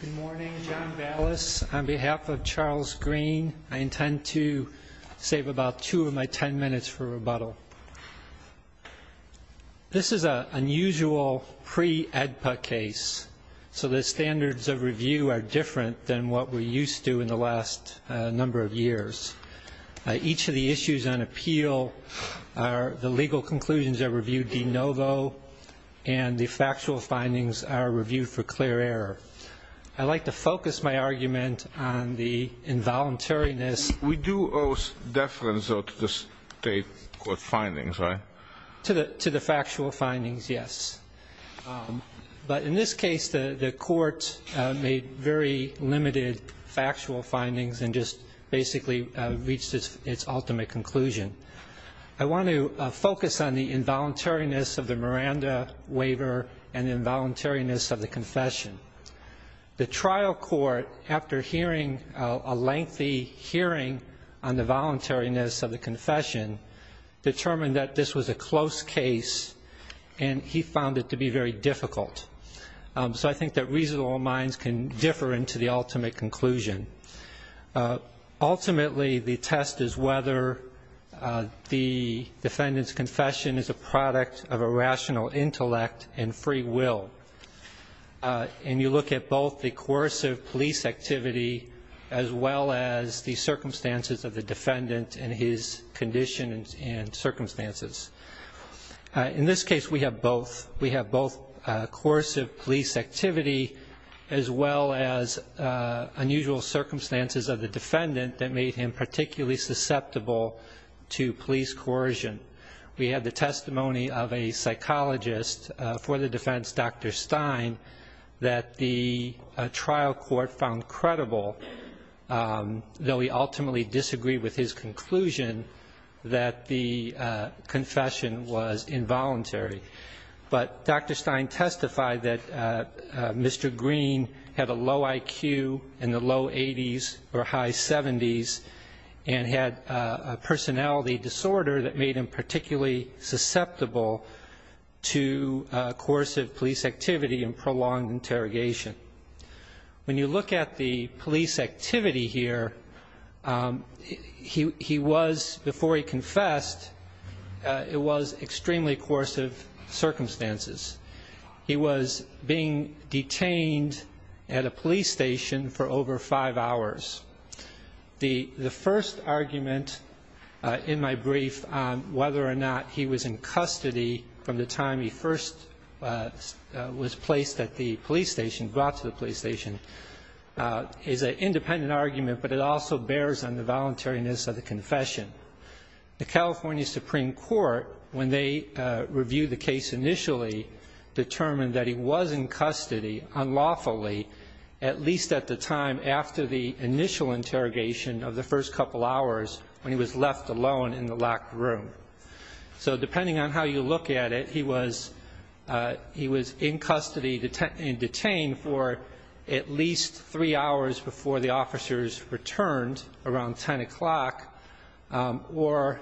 Good morning, John Ballas. On behalf of Charles Green, I intend to save about two of my ten minutes for rebuttal. This is an unusual pre-AEDPA case, so the standards of review are different than what we're used to in the last number of years. Each of the issues on appeal are the legal conclusions are reviewed de novo, and the factual findings are reviewed for clear error. I'd like to focus my argument on the involuntariness. We do owe deference, though, to the state court findings, right? To the factual findings, yes. But in this case, the court made very limited factual findings and just basically reached its ultimate conclusion. I want to focus on the involuntariness of the Miranda waiver and the involuntariness of the confession. The trial court, after hearing a lengthy hearing on the voluntariness of the confession, determined that this was a close case, and he found it to be very difficult. So I think that reasonable minds can differ into the ultimate conclusion. Ultimately, the test is whether the defendant's confession is a product of a rational intellect and free will. And you look at both the coercive police activity as well as the circumstances of the defendant and his conditions and circumstances. In this case, we have both. We have both coercive police activity as well as unusual circumstances of the defendant that made him particularly susceptible to police coercion. We had the testimony of a psychologist for the defense, Dr. Stein, that the trial court found credible, though he ultimately disagreed with his conclusion, that the conclusion of the confession was involuntary. But Dr. Stein testified that Mr. Green had a low IQ in the low 80s or high 70s and had a personality disorder that made him particularly susceptible to coercive police activity and prolonged interrogation. When you look at the police activity here, he was, before he confessed, he was involved in extremely coercive circumstances. He was being detained at a police station for over five hours. The first argument in my brief on whether or not he was in custody from the time he first was placed at the police station, brought to the police station, is an independent argument, but it also bears on the voluntariness of the confession. The California Supreme Court, when they reviewed the case initially, determined that he was in custody unlawfully, at least at the time after the initial interrogation of the first couple hours when he was left alone in the locked room. So depending on how you look at it, he was in custody and detained for at least three hours before the officers returned around 10 o'clock or,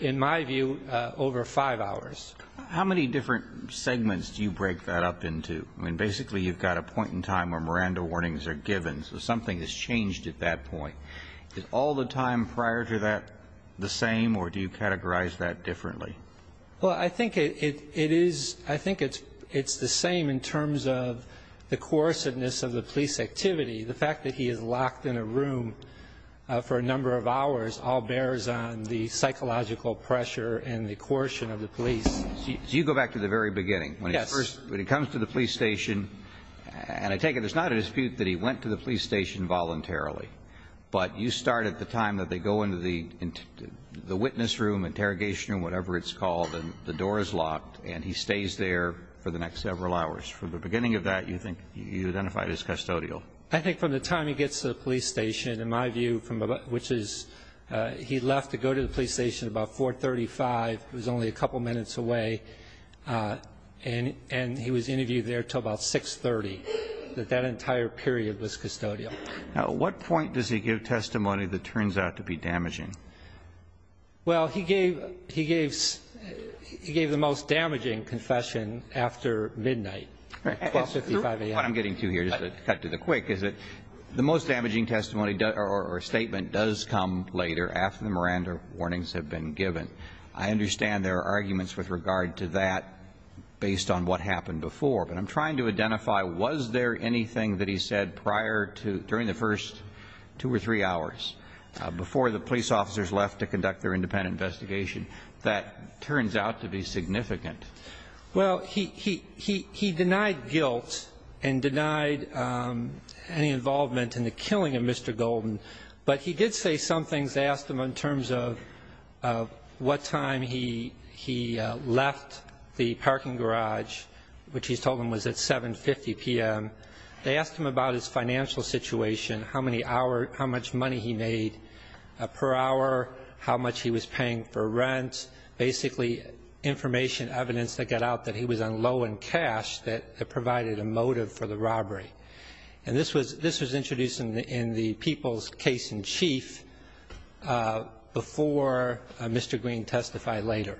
in my view, over five hours. How many different segments do you break that up into? I mean, basically you've got a point in time where Miranda warnings are given, so something has changed at that point. Is all the time prior to that the same or do you categorize that differently? Well, I think it is, I think it's the same in terms of the coercedness of the police activity. The fact that he is locked in a room for a number of hours all bears on the psychological pressure and the coercion of the police. So you go back to the very beginning. Yes. When he first, when he comes to the police station, and I take it there's not a dispute that he went to the police station voluntarily, but you start at the time that they go into the witness room, interrogation room, whatever it's called, and the door is locked and he stays there for the next several hours. From the beginning of that, you think you identified as custodial? I think from the time he gets to the police station, in my view, from which is he left to go to the police station about 4.35, it was only a couple minutes away, and he was interviewed there until about 6.30, that that entire period was custodial. Now, at what point does he give testimony that turns out to be damaging? Well, he gave the most damaging confession after midnight, 12.55 a.m. What I'm getting to here, just to cut to the quick, is that the most damaging testimony or statement does come later after the Miranda warnings have been given. I understand there are arguments with regard to that based on what happened before, but I'm trying to identify was there anything that he said prior to, during the first two or three hours before the police officers left to conduct their independent investigation that turns out to be significant? Well, he denied guilt and denied any involvement in the killing of Mr. Golden, but he did say some things. They asked him in terms of what time he left the parking garage, which he's told him was at 7.50 p.m. They asked him about his financial situation, how many hours, how much money he made per hour, how much he was paying for rent, basically information, evidence that got out that he was on low in cash that provided a motive for the robbery. And this was introduced in the People's Case-in-Chief before Mr. Green testified later.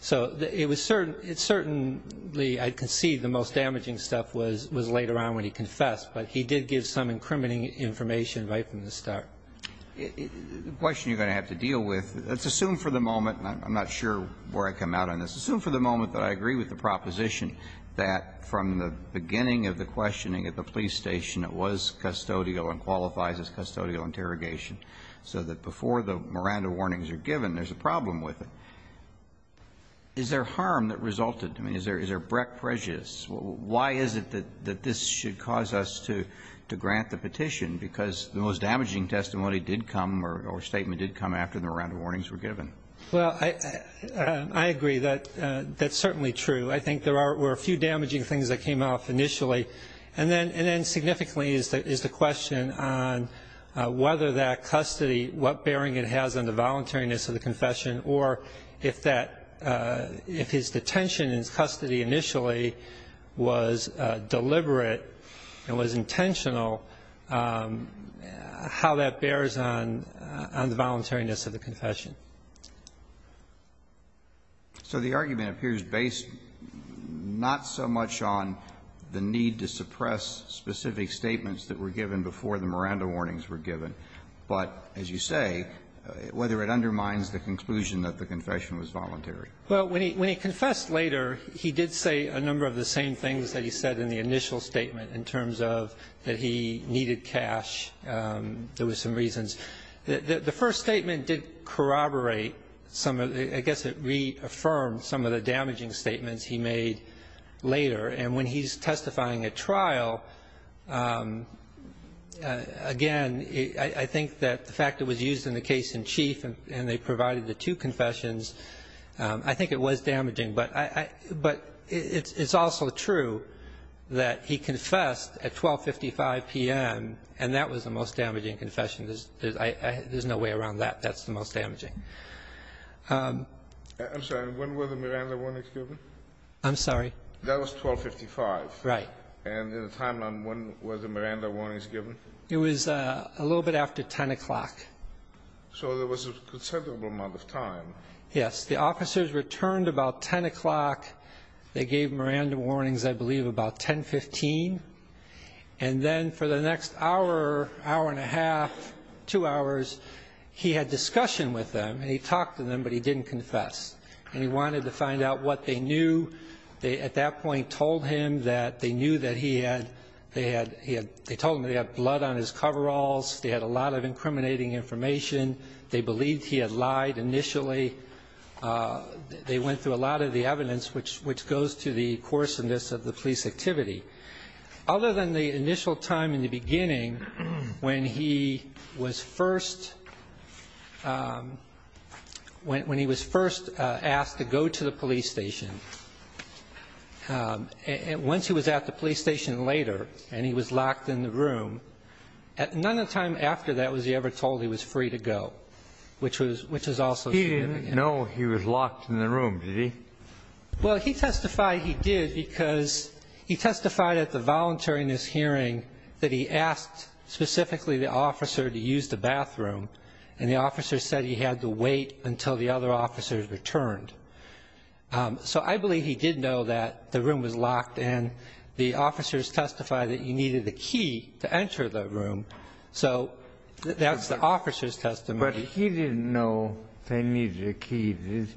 So it was certainly, I concede, the most damaging stuff was later on when he confessed, but he did give some incriminating information right from the start. The question you're going to have to deal with, let's assume for the moment, and I'm not sure where I come out on this, assume for the moment that I agree with the proposition that from the beginning of the questioning at the police station, it was custodial and qualifies as custodial interrogation, so that before the Miranda warnings are given, there's a problem with it. Is there harm that resulted? I mean, is there breck prejudice? Why is it that this should cause us to grant the petition? Because the most damaging testimony did come, or statement did come, after the Miranda warnings were given. Well, I agree that that's certainly true. I think there were a few damaging things that came off initially. And then significantly is the question on whether that custody, what bearing it has on the voluntariness of the confession, or if his detention and his custody initially was deliberate and was intentional, how that bears on the voluntariness of the confession. So the argument appears based not so much on the need to suppress specific statements that were given before the Miranda warnings were given, but, as you say, whether it undermines the conclusion that the confession was voluntary. Well, when he confessed later, he did say a number of the same things that he said in the initial statement in terms of that he needed cash. There were some reasons. The first statement did corroborate some of the – I guess it reaffirmed some of the damaging statements he made later. And when he's testifying at trial, again, I think that the fact it was used in the case in chief and they provided the two confessions I think it was damaging. But I – but it's also true that he confessed at 12.55 p.m., and that was the most damaging confession. There's no way around that. That's the most damaging. I'm sorry. When were the Miranda warnings given? I'm sorry? That was 12.55. Right. And in the timeline, when were the Miranda warnings given? It was a little bit after 10 o'clock. So there was a considerable amount of time. Yes. The officers returned about 10 o'clock. They gave Miranda warnings, I believe, about 10.15. And then for the next hour, hour and a half, two hours, he had discussion with them, and he talked to them, but he didn't confess. And he wanted to find out what they knew. They, at that point, told him that they knew that he had – they told him that he had blood on his coveralls. They had a lot of incriminating information. They believed he had lied initially. They went through a lot of the evidence, which goes to the coarseness of the police activity. Other than the initial time in the beginning, when he was first – when he was first asked to go to the police station, once he was at the police station later and he was He didn't know he was locked in the room, did he? Well, he testified he did because he testified at the voluntariness hearing that he asked specifically the officer to use the bathroom, and the officer said he had to wait until the other officers returned. So I believe he did know that the room was locked, and the officers testified that he needed a key to enter the room. So that's the officer's But he didn't know they needed a key, did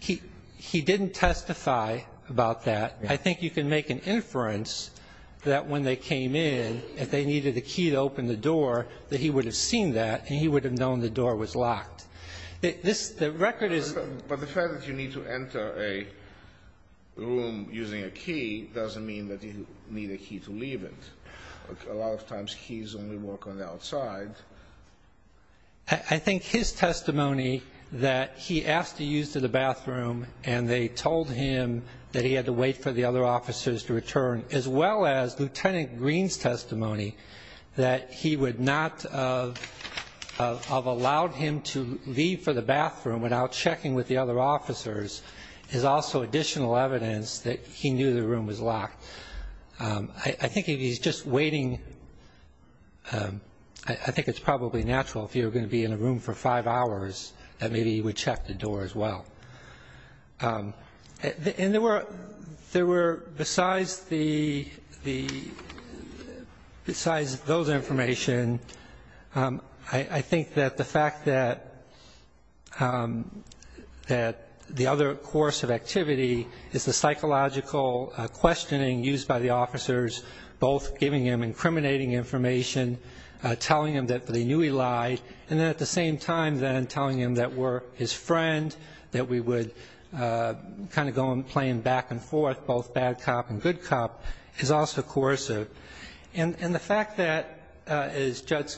he? He didn't testify about that. I think you can make an inference that when they came in, if they needed a key to open the door, that he would have seen that and he would have known the door was locked. This – the record is But the fact that you need to enter a room using a key doesn't mean that you need a to leave it. A lot of times keys only work on the outside. I think his testimony that he asked to use the bathroom and they told him that he had to wait for the other officers to return, as well as Lieutenant Green's testimony that he would not have allowed him to leave for the bathroom without checking with the other officers is also additional evidence that he knew the room was locked. I think if he's just waiting – I think it's probably natural if you were going to be in a room for five hours that maybe he would check the door, as well. And there were – there were – besides the – besides those information, I think that the fact that – that the other course of activity is the psychological questioning used by the officers, both giving him incriminating information, telling him that they knew he lied, and then at the same time then telling him that we're his friend, that we would kind of go and play him back and forth, both bad cop and good cop, is also coercive. And the fact that, as Judge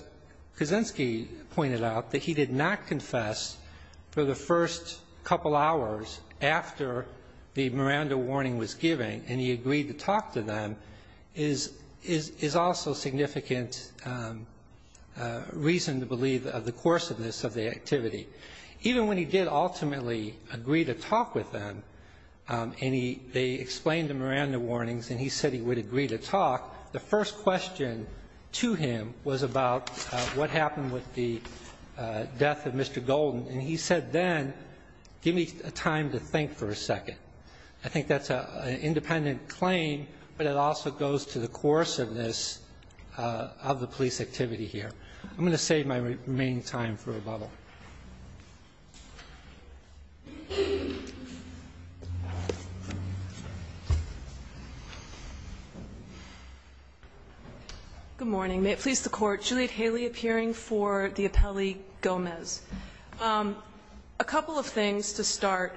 Kaczynski pointed out, that he did not confess for the first couple hours after the Miranda warning was given and he agreed to talk to them is – is also significant reason to believe of the coerciveness of the activity. Even when he did ultimately agree to talk with them and he – they explained the Miranda warnings and he said he would agree to talk, the first question to him was about what happened with the death of Mr. Golden. And he said then, give me a time to think for a second. I think that's an independent claim, but it also goes to the coerciveness of the police activity here. I'm going to save my remaining time for a bubble. Good morning. May it please the Court. Juliet Haley appearing for the appellee Gomez. A couple of things to start.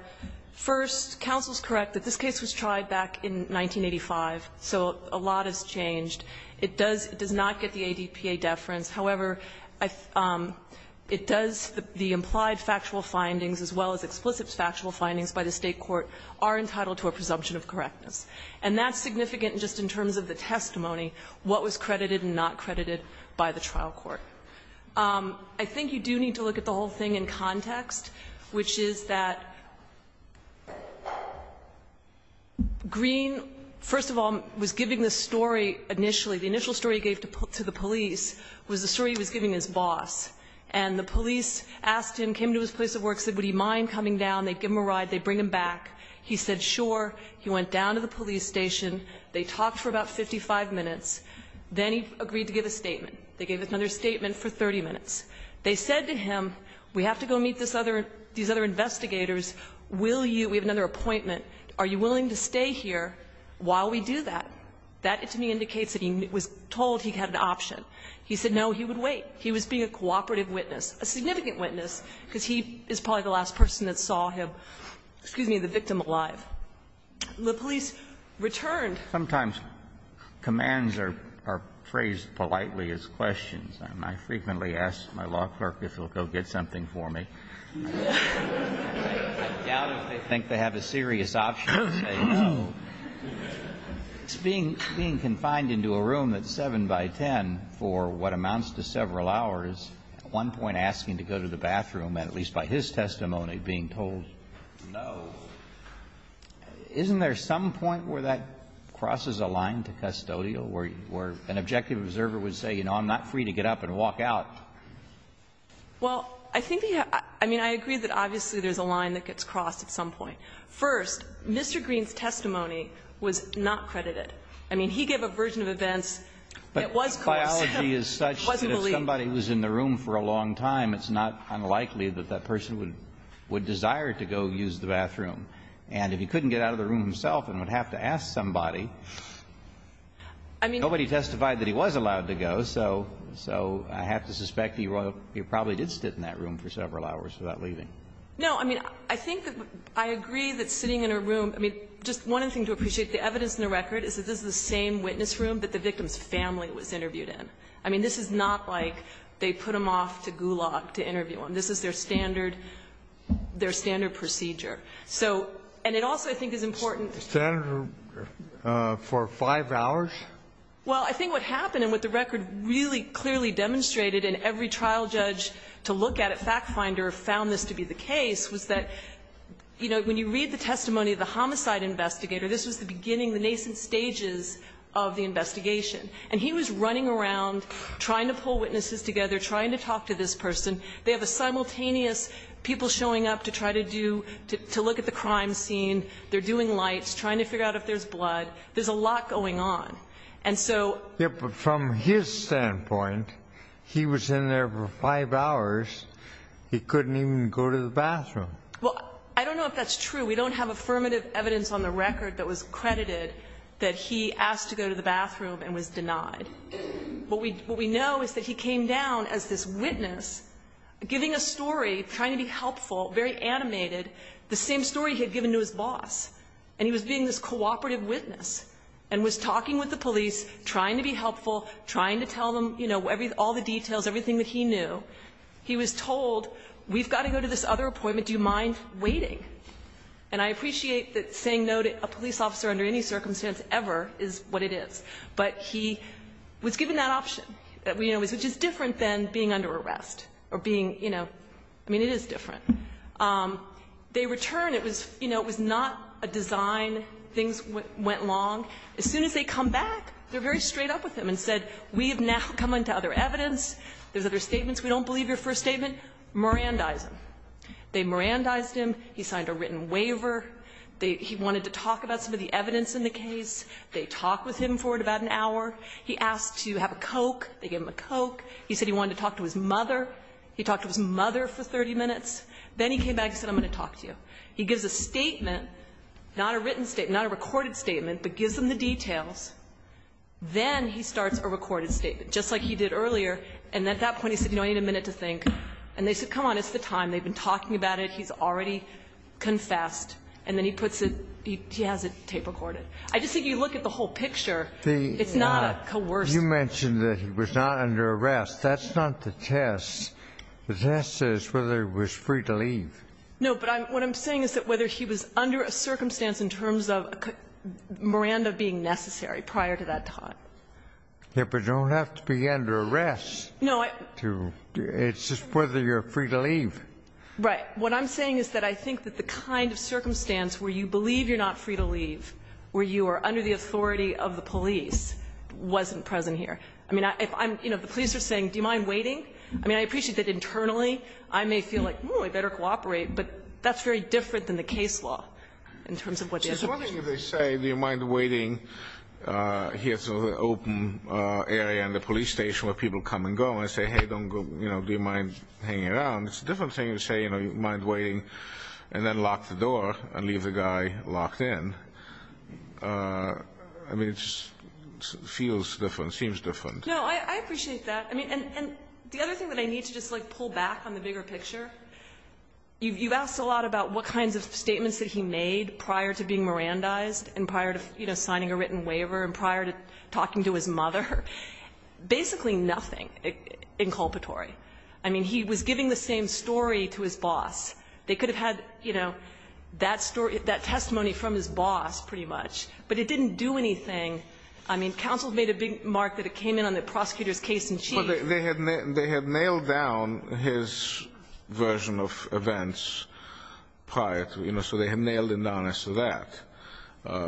First, counsel's correct that this case was tried back in 1985, so a lot has changed. It does – it does not get the ADPA deference. However, I – it does – the implied factual findings as well as explicit factual findings by the State court are entitled to a presumption of correctness. And that's significant just in terms of the testimony, what was credited and not credited by the trial court. I think you do need to look at the whole thing in context, which is that Green, first of all, was giving the story initially – the initial story he gave to the police was the story he was giving his boss. And the police asked him, came to his place of work, said, would he mind coming down, they'd give him a ride, they'd bring him back. He said, sure. He went down to the police station. They talked for about 55 minutes. Then he agreed to give a statement. They gave another statement for 30 minutes. They said to him, we have to go meet this other – these other investigators. Will you – we have another appointment. Are you willing to stay here while we do that? That, to me, indicates that he was told he had an option. He said, no, he would wait. He was being a cooperative witness, a significant witness, because he is probably the last person that saw him – excuse me, the victim alive. The police returned. Sometimes commands are – are phrased politely as questions. I frequently ask my law clerk if he'll go get something for me. I doubt if they think they have a serious option. It's being – being confined into a room that's 7 by 10 for what amounts to several hours. At one point, asking to go to the bathroom, and at least by his testimony, being told no. Isn't there some point where that crosses a line to custodial, where an objective observer would say, you know, I'm not free to get up and walk out? Well, I think the – I mean, I agree that obviously there's a line that gets crossed at some point. First, Mr. Green's testimony was not credited. I mean, he gave a version of events that was close. The analogy is such that if somebody was in the room for a long time, it's not unlikely that that person would – would desire to go use the bathroom. And if he couldn't get out of the room himself and would have to ask somebody, nobody testified that he was allowed to go, so – so I have to suspect that he probably did sit in that room for several hours without leaving. No, I mean, I think that – I agree that sitting in a room – I mean, just one other thing to appreciate. The evidence in the record is that this is the same witness room that the victim's family was interviewed in. I mean, this is not like they put him off to Gulag to interview him. This is their standard – their standard procedure. So – and it also, I think, is important to – Kennedy, for five hours? Well, I think what happened and what the record really clearly demonstrated and every trial judge to look at at FactFinder found this to be the case was that, you know, when you read the testimony of the homicide investigator, this was the beginning, the nascent stages of the investigation. And he was running around trying to pull witnesses together, trying to talk to this person. They have a simultaneous people showing up to try to do – to look at the crime scene. They're doing lights, trying to figure out if there's blood. There's a lot going on. And so – Yes, but from his standpoint, he was in there for five hours. He couldn't even go to the bathroom. Well, I don't know if that's true. We don't have affirmative evidence on the record that was credited that he asked to go to the bathroom and was denied. What we know is that he came down as this witness giving a story, trying to be helpful, very animated, the same story he had given to his boss. And he was being this cooperative witness and was talking with the police, trying to be helpful, trying to tell them, you know, all the details, everything that he knew. He was told, we've got to go to this other appointment. Do you mind waiting? And I appreciate that saying no to a police officer under any circumstance ever is what it is. But he was given that option, which is different than being under arrest or being, you know, I mean, it is different. They return. It was, you know, it was not a design. Things went long. As soon as they come back, they're very straight up with him and said, we have now come into other evidence. There's other statements. We don't believe your first statement. Mirandize him. They mirandized him. He signed a written waiver. He wanted to talk about some of the evidence in the case. They talked with him for about an hour. He asked to have a Coke. They gave him a Coke. He said he wanted to talk to his mother. He talked to his mother for 30 minutes. Then he came back and said, I'm going to talk to you. He gives a statement, not a written statement, not a recorded statement, but gives them the details. Then he starts a recorded statement, just like he did earlier. And at that point, he said, you know, I need a minute to think. And they said, come on, it's the time. They've been talking about it. He's already confessed. And then he puts it, he has it tape recorded. I just think you look at the whole picture, it's not a coerced. You mentioned that he was not under arrest. That's not the test. The test is whether he was free to leave. No, but what I'm saying is that whether he was under a circumstance in terms of Miranda being necessary prior to that time. Yeah, but you don't have to be under arrest to, it's just whether you're free to leave. Right. What I'm saying is that I think that the kind of circumstance where you believe you're not free to leave, where you are under the authority of the police, wasn't present here. I mean, if I'm, you know, the police are saying, do you mind waiting? I mean, I appreciate that internally, I may feel like, oh, I better cooperate, but that's very different than the case law in terms of what the estimation is. I'm just wondering if they say, do you mind waiting here in the open area in the police station where people come and go, and I say, hey, don't go, you know, do you mind hanging around, it's a different thing to say, you know, do you mind waiting, and then lock the door and leave the guy locked in. I mean, it just feels different, seems different. No, I appreciate that. I mean, and the other thing that I need to just, like, pull back on the bigger picture, you've asked a lot about what kinds of statements that he made prior to being Mirandized and prior to, you know, signing a written waiver and prior to talking to his mother. Basically nothing inculpatory. I mean, he was giving the same story to his boss. They could have had, you know, that story, that testimony from his boss, pretty much, but it didn't do anything. I mean, counsel made a big mark that it came in on the prosecutor's case in chief. But they had nailed down his version of events prior to, you know, so they had nailed him down as to that,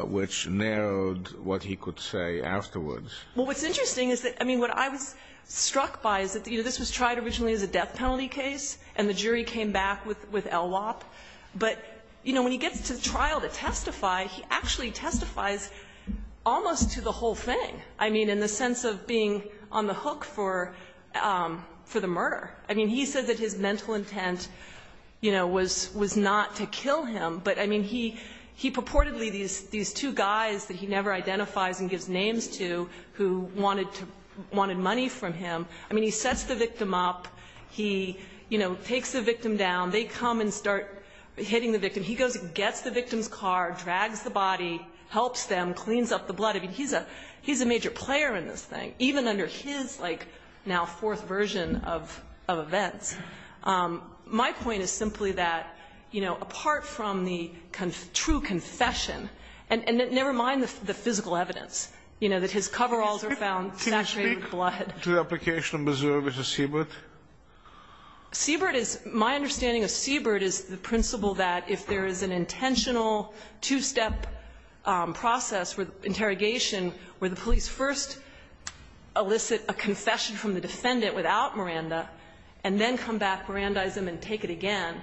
which narrowed what he could say afterwards. Well, what's interesting is that, I mean, what I was struck by is that, you know, this was tried originally as a death penalty case, and the jury came back with LWOP. But, you know, when he gets to trial to testify, he actually testifies almost to the whole thing, I mean, in the sense of being on the hook for the murder. I mean, he said that his mental intent, you know, was not to kill him, but, I mean, he purportedly, these two guys that he never identifies and gives names to who wanted money from him, I mean, he sets the victim up, he, you know, takes the victim down. They come and start hitting the victim. He goes and gets the victim's car, drags the body, helps them, cleans up the blood. I mean, he's a major player in this thing, even under his, like, now fourth version of events. My point is simply that, you know, apart from the true confession, and never mind the physical evidence, you know, that his coveralls are found saturated with blood. Can you speak to the application of Mazur v. Seabird? Seabird is, my understanding of Seabird is the principle that if there is an intentional two-step process for interrogation where the police first elicit a confession from the defendant without Miranda, and then come back, Mirandize him, and take it again,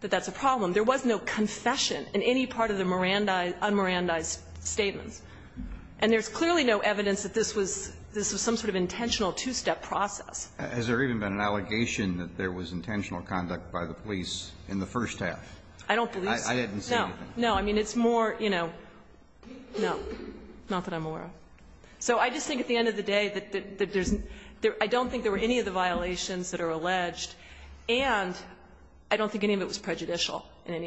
that that's a problem. There was no confession in any part of the Mirandize, un-Mirandize statements. And there's clearly no evidence that this was some sort of intentional two-step process. Has there even been an allegation that there was intentional conduct by the police in the first half? I don't believe so. I didn't see anything. No. No. I mean, it's more, you know, no, not that I'm aware of. So I just think at the end of the day that there's, I don't think there were any of the violations that are alleged, and I don't think any of it was prejudicial. And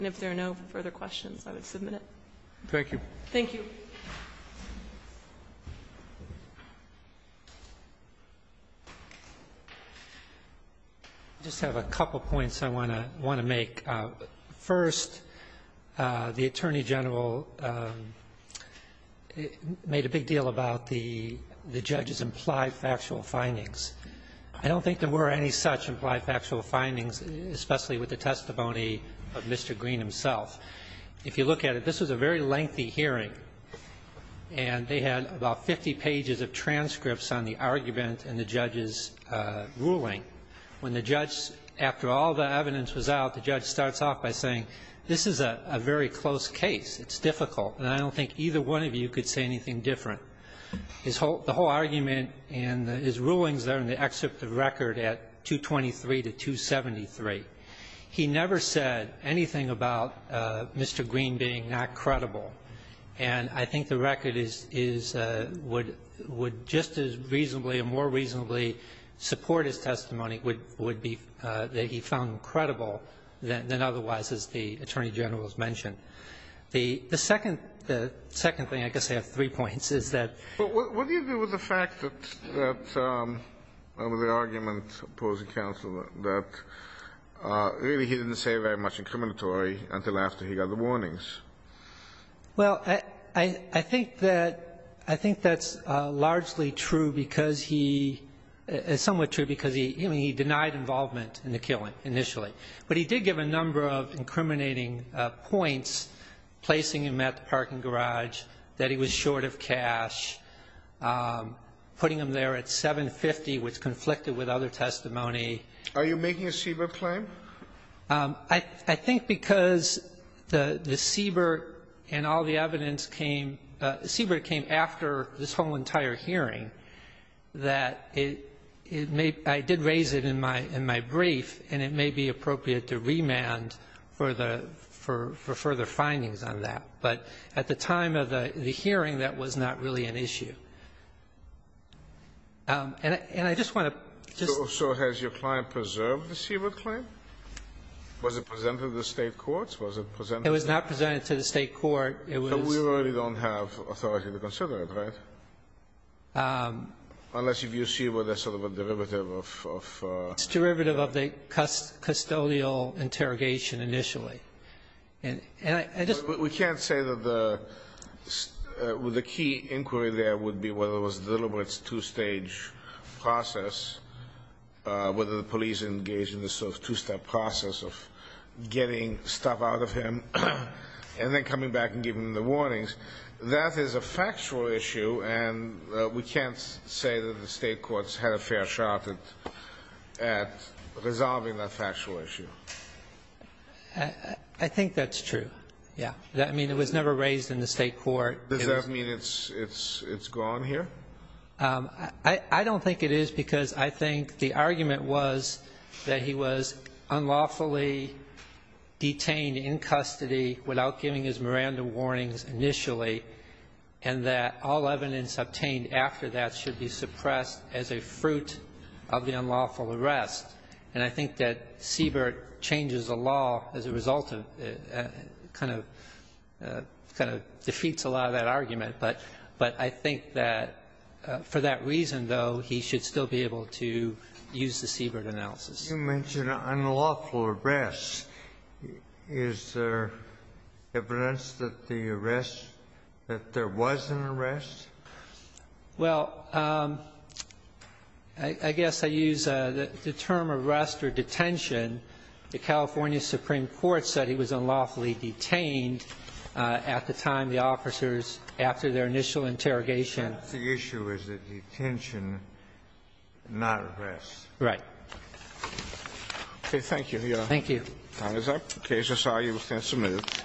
if there are no further questions, I would submit it. Thank you. Thank you. I just have a couple points I want to make. First, the Attorney General made a big deal about the judge's implied factual findings. I don't think there were any such implied factual findings, especially with the testimony of Mr. Green himself. If you look at it, this was a very lengthy hearing, and they had about 50 pages of transcripts on the argument and the judge's ruling. When the judge, after all the evidence was out, the judge starts off by saying, this is a very close case. It's difficult. And I don't think either one of you could say anything different. The whole argument and his rulings are in the excerpt of the record at 223 to 273. He never said anything about Mr. Green being not credible. And I think the record is, would just as reasonably or more reasonably support his testimony would be that he found credible than otherwise, as the Attorney General has mentioned. The second thing, I guess I have three points, is that What do you do with the fact that, over the argument opposing counsel, that really he didn't say very much incriminatory until after he got the warnings? Well, I think that's largely true because he, somewhat true because he denied involvement in the killing initially. But he did give a number of incriminating points, placing him at the parking garage, that he was short of cash, putting him there at 750, which conflicted with other testimony. Are you making a Siebert claim? I think because the Siebert and all the evidence came, the Siebert came after this whole entire hearing, that it may, I did raise it in my brief, and it may be appropriate to remand for further findings on that. But at the time of the hearing, that was not really an issue. And I just want to just So has your client preserved the Siebert claim? Was it presented to the State courts? Was it presented to the It was not presented to the State court. It was So we really don't have authority to consider it, right? Unless you view Siebert as sort of a derivative of It's derivative of the custodial interrogation initially. And I just We can't say that the, the key inquiry there would be whether it was deliberate two-stage process, whether the police engaged in this sort of two-step process of getting stuff out of him and then coming back and giving him the warnings. That is a factual issue. And we can't say that the State courts had a fair shot at resolving that factual issue. I think that's true. Yeah. I mean, it was never raised in the State court. Does that mean it's, it's, it's gone here? I don't think it is because I think the argument was that he was unlawfully detained in custody without giving his Miranda warnings initially, and that all evidence obtained after that should be suppressed as a fruit of the unlawful arrest. And I think that Siebert changes the law as a result of, kind of, kind of defeats a lot of that argument. But, but I think that for that reason, though, he should still be able to use the Siebert analysis. You mentioned an unlawful arrest. Is there evidence that the arrest, that there was an arrest? Well, I guess I use the term arrest or detention. The California Supreme Court said he was unlawfully detained at the time the officers, after their initial interrogation. But the issue is the detention, not arrest. Right. Okay, thank you. Yeah. Thank you. Time is up. Okay, so sorry, you were sentenced a minute.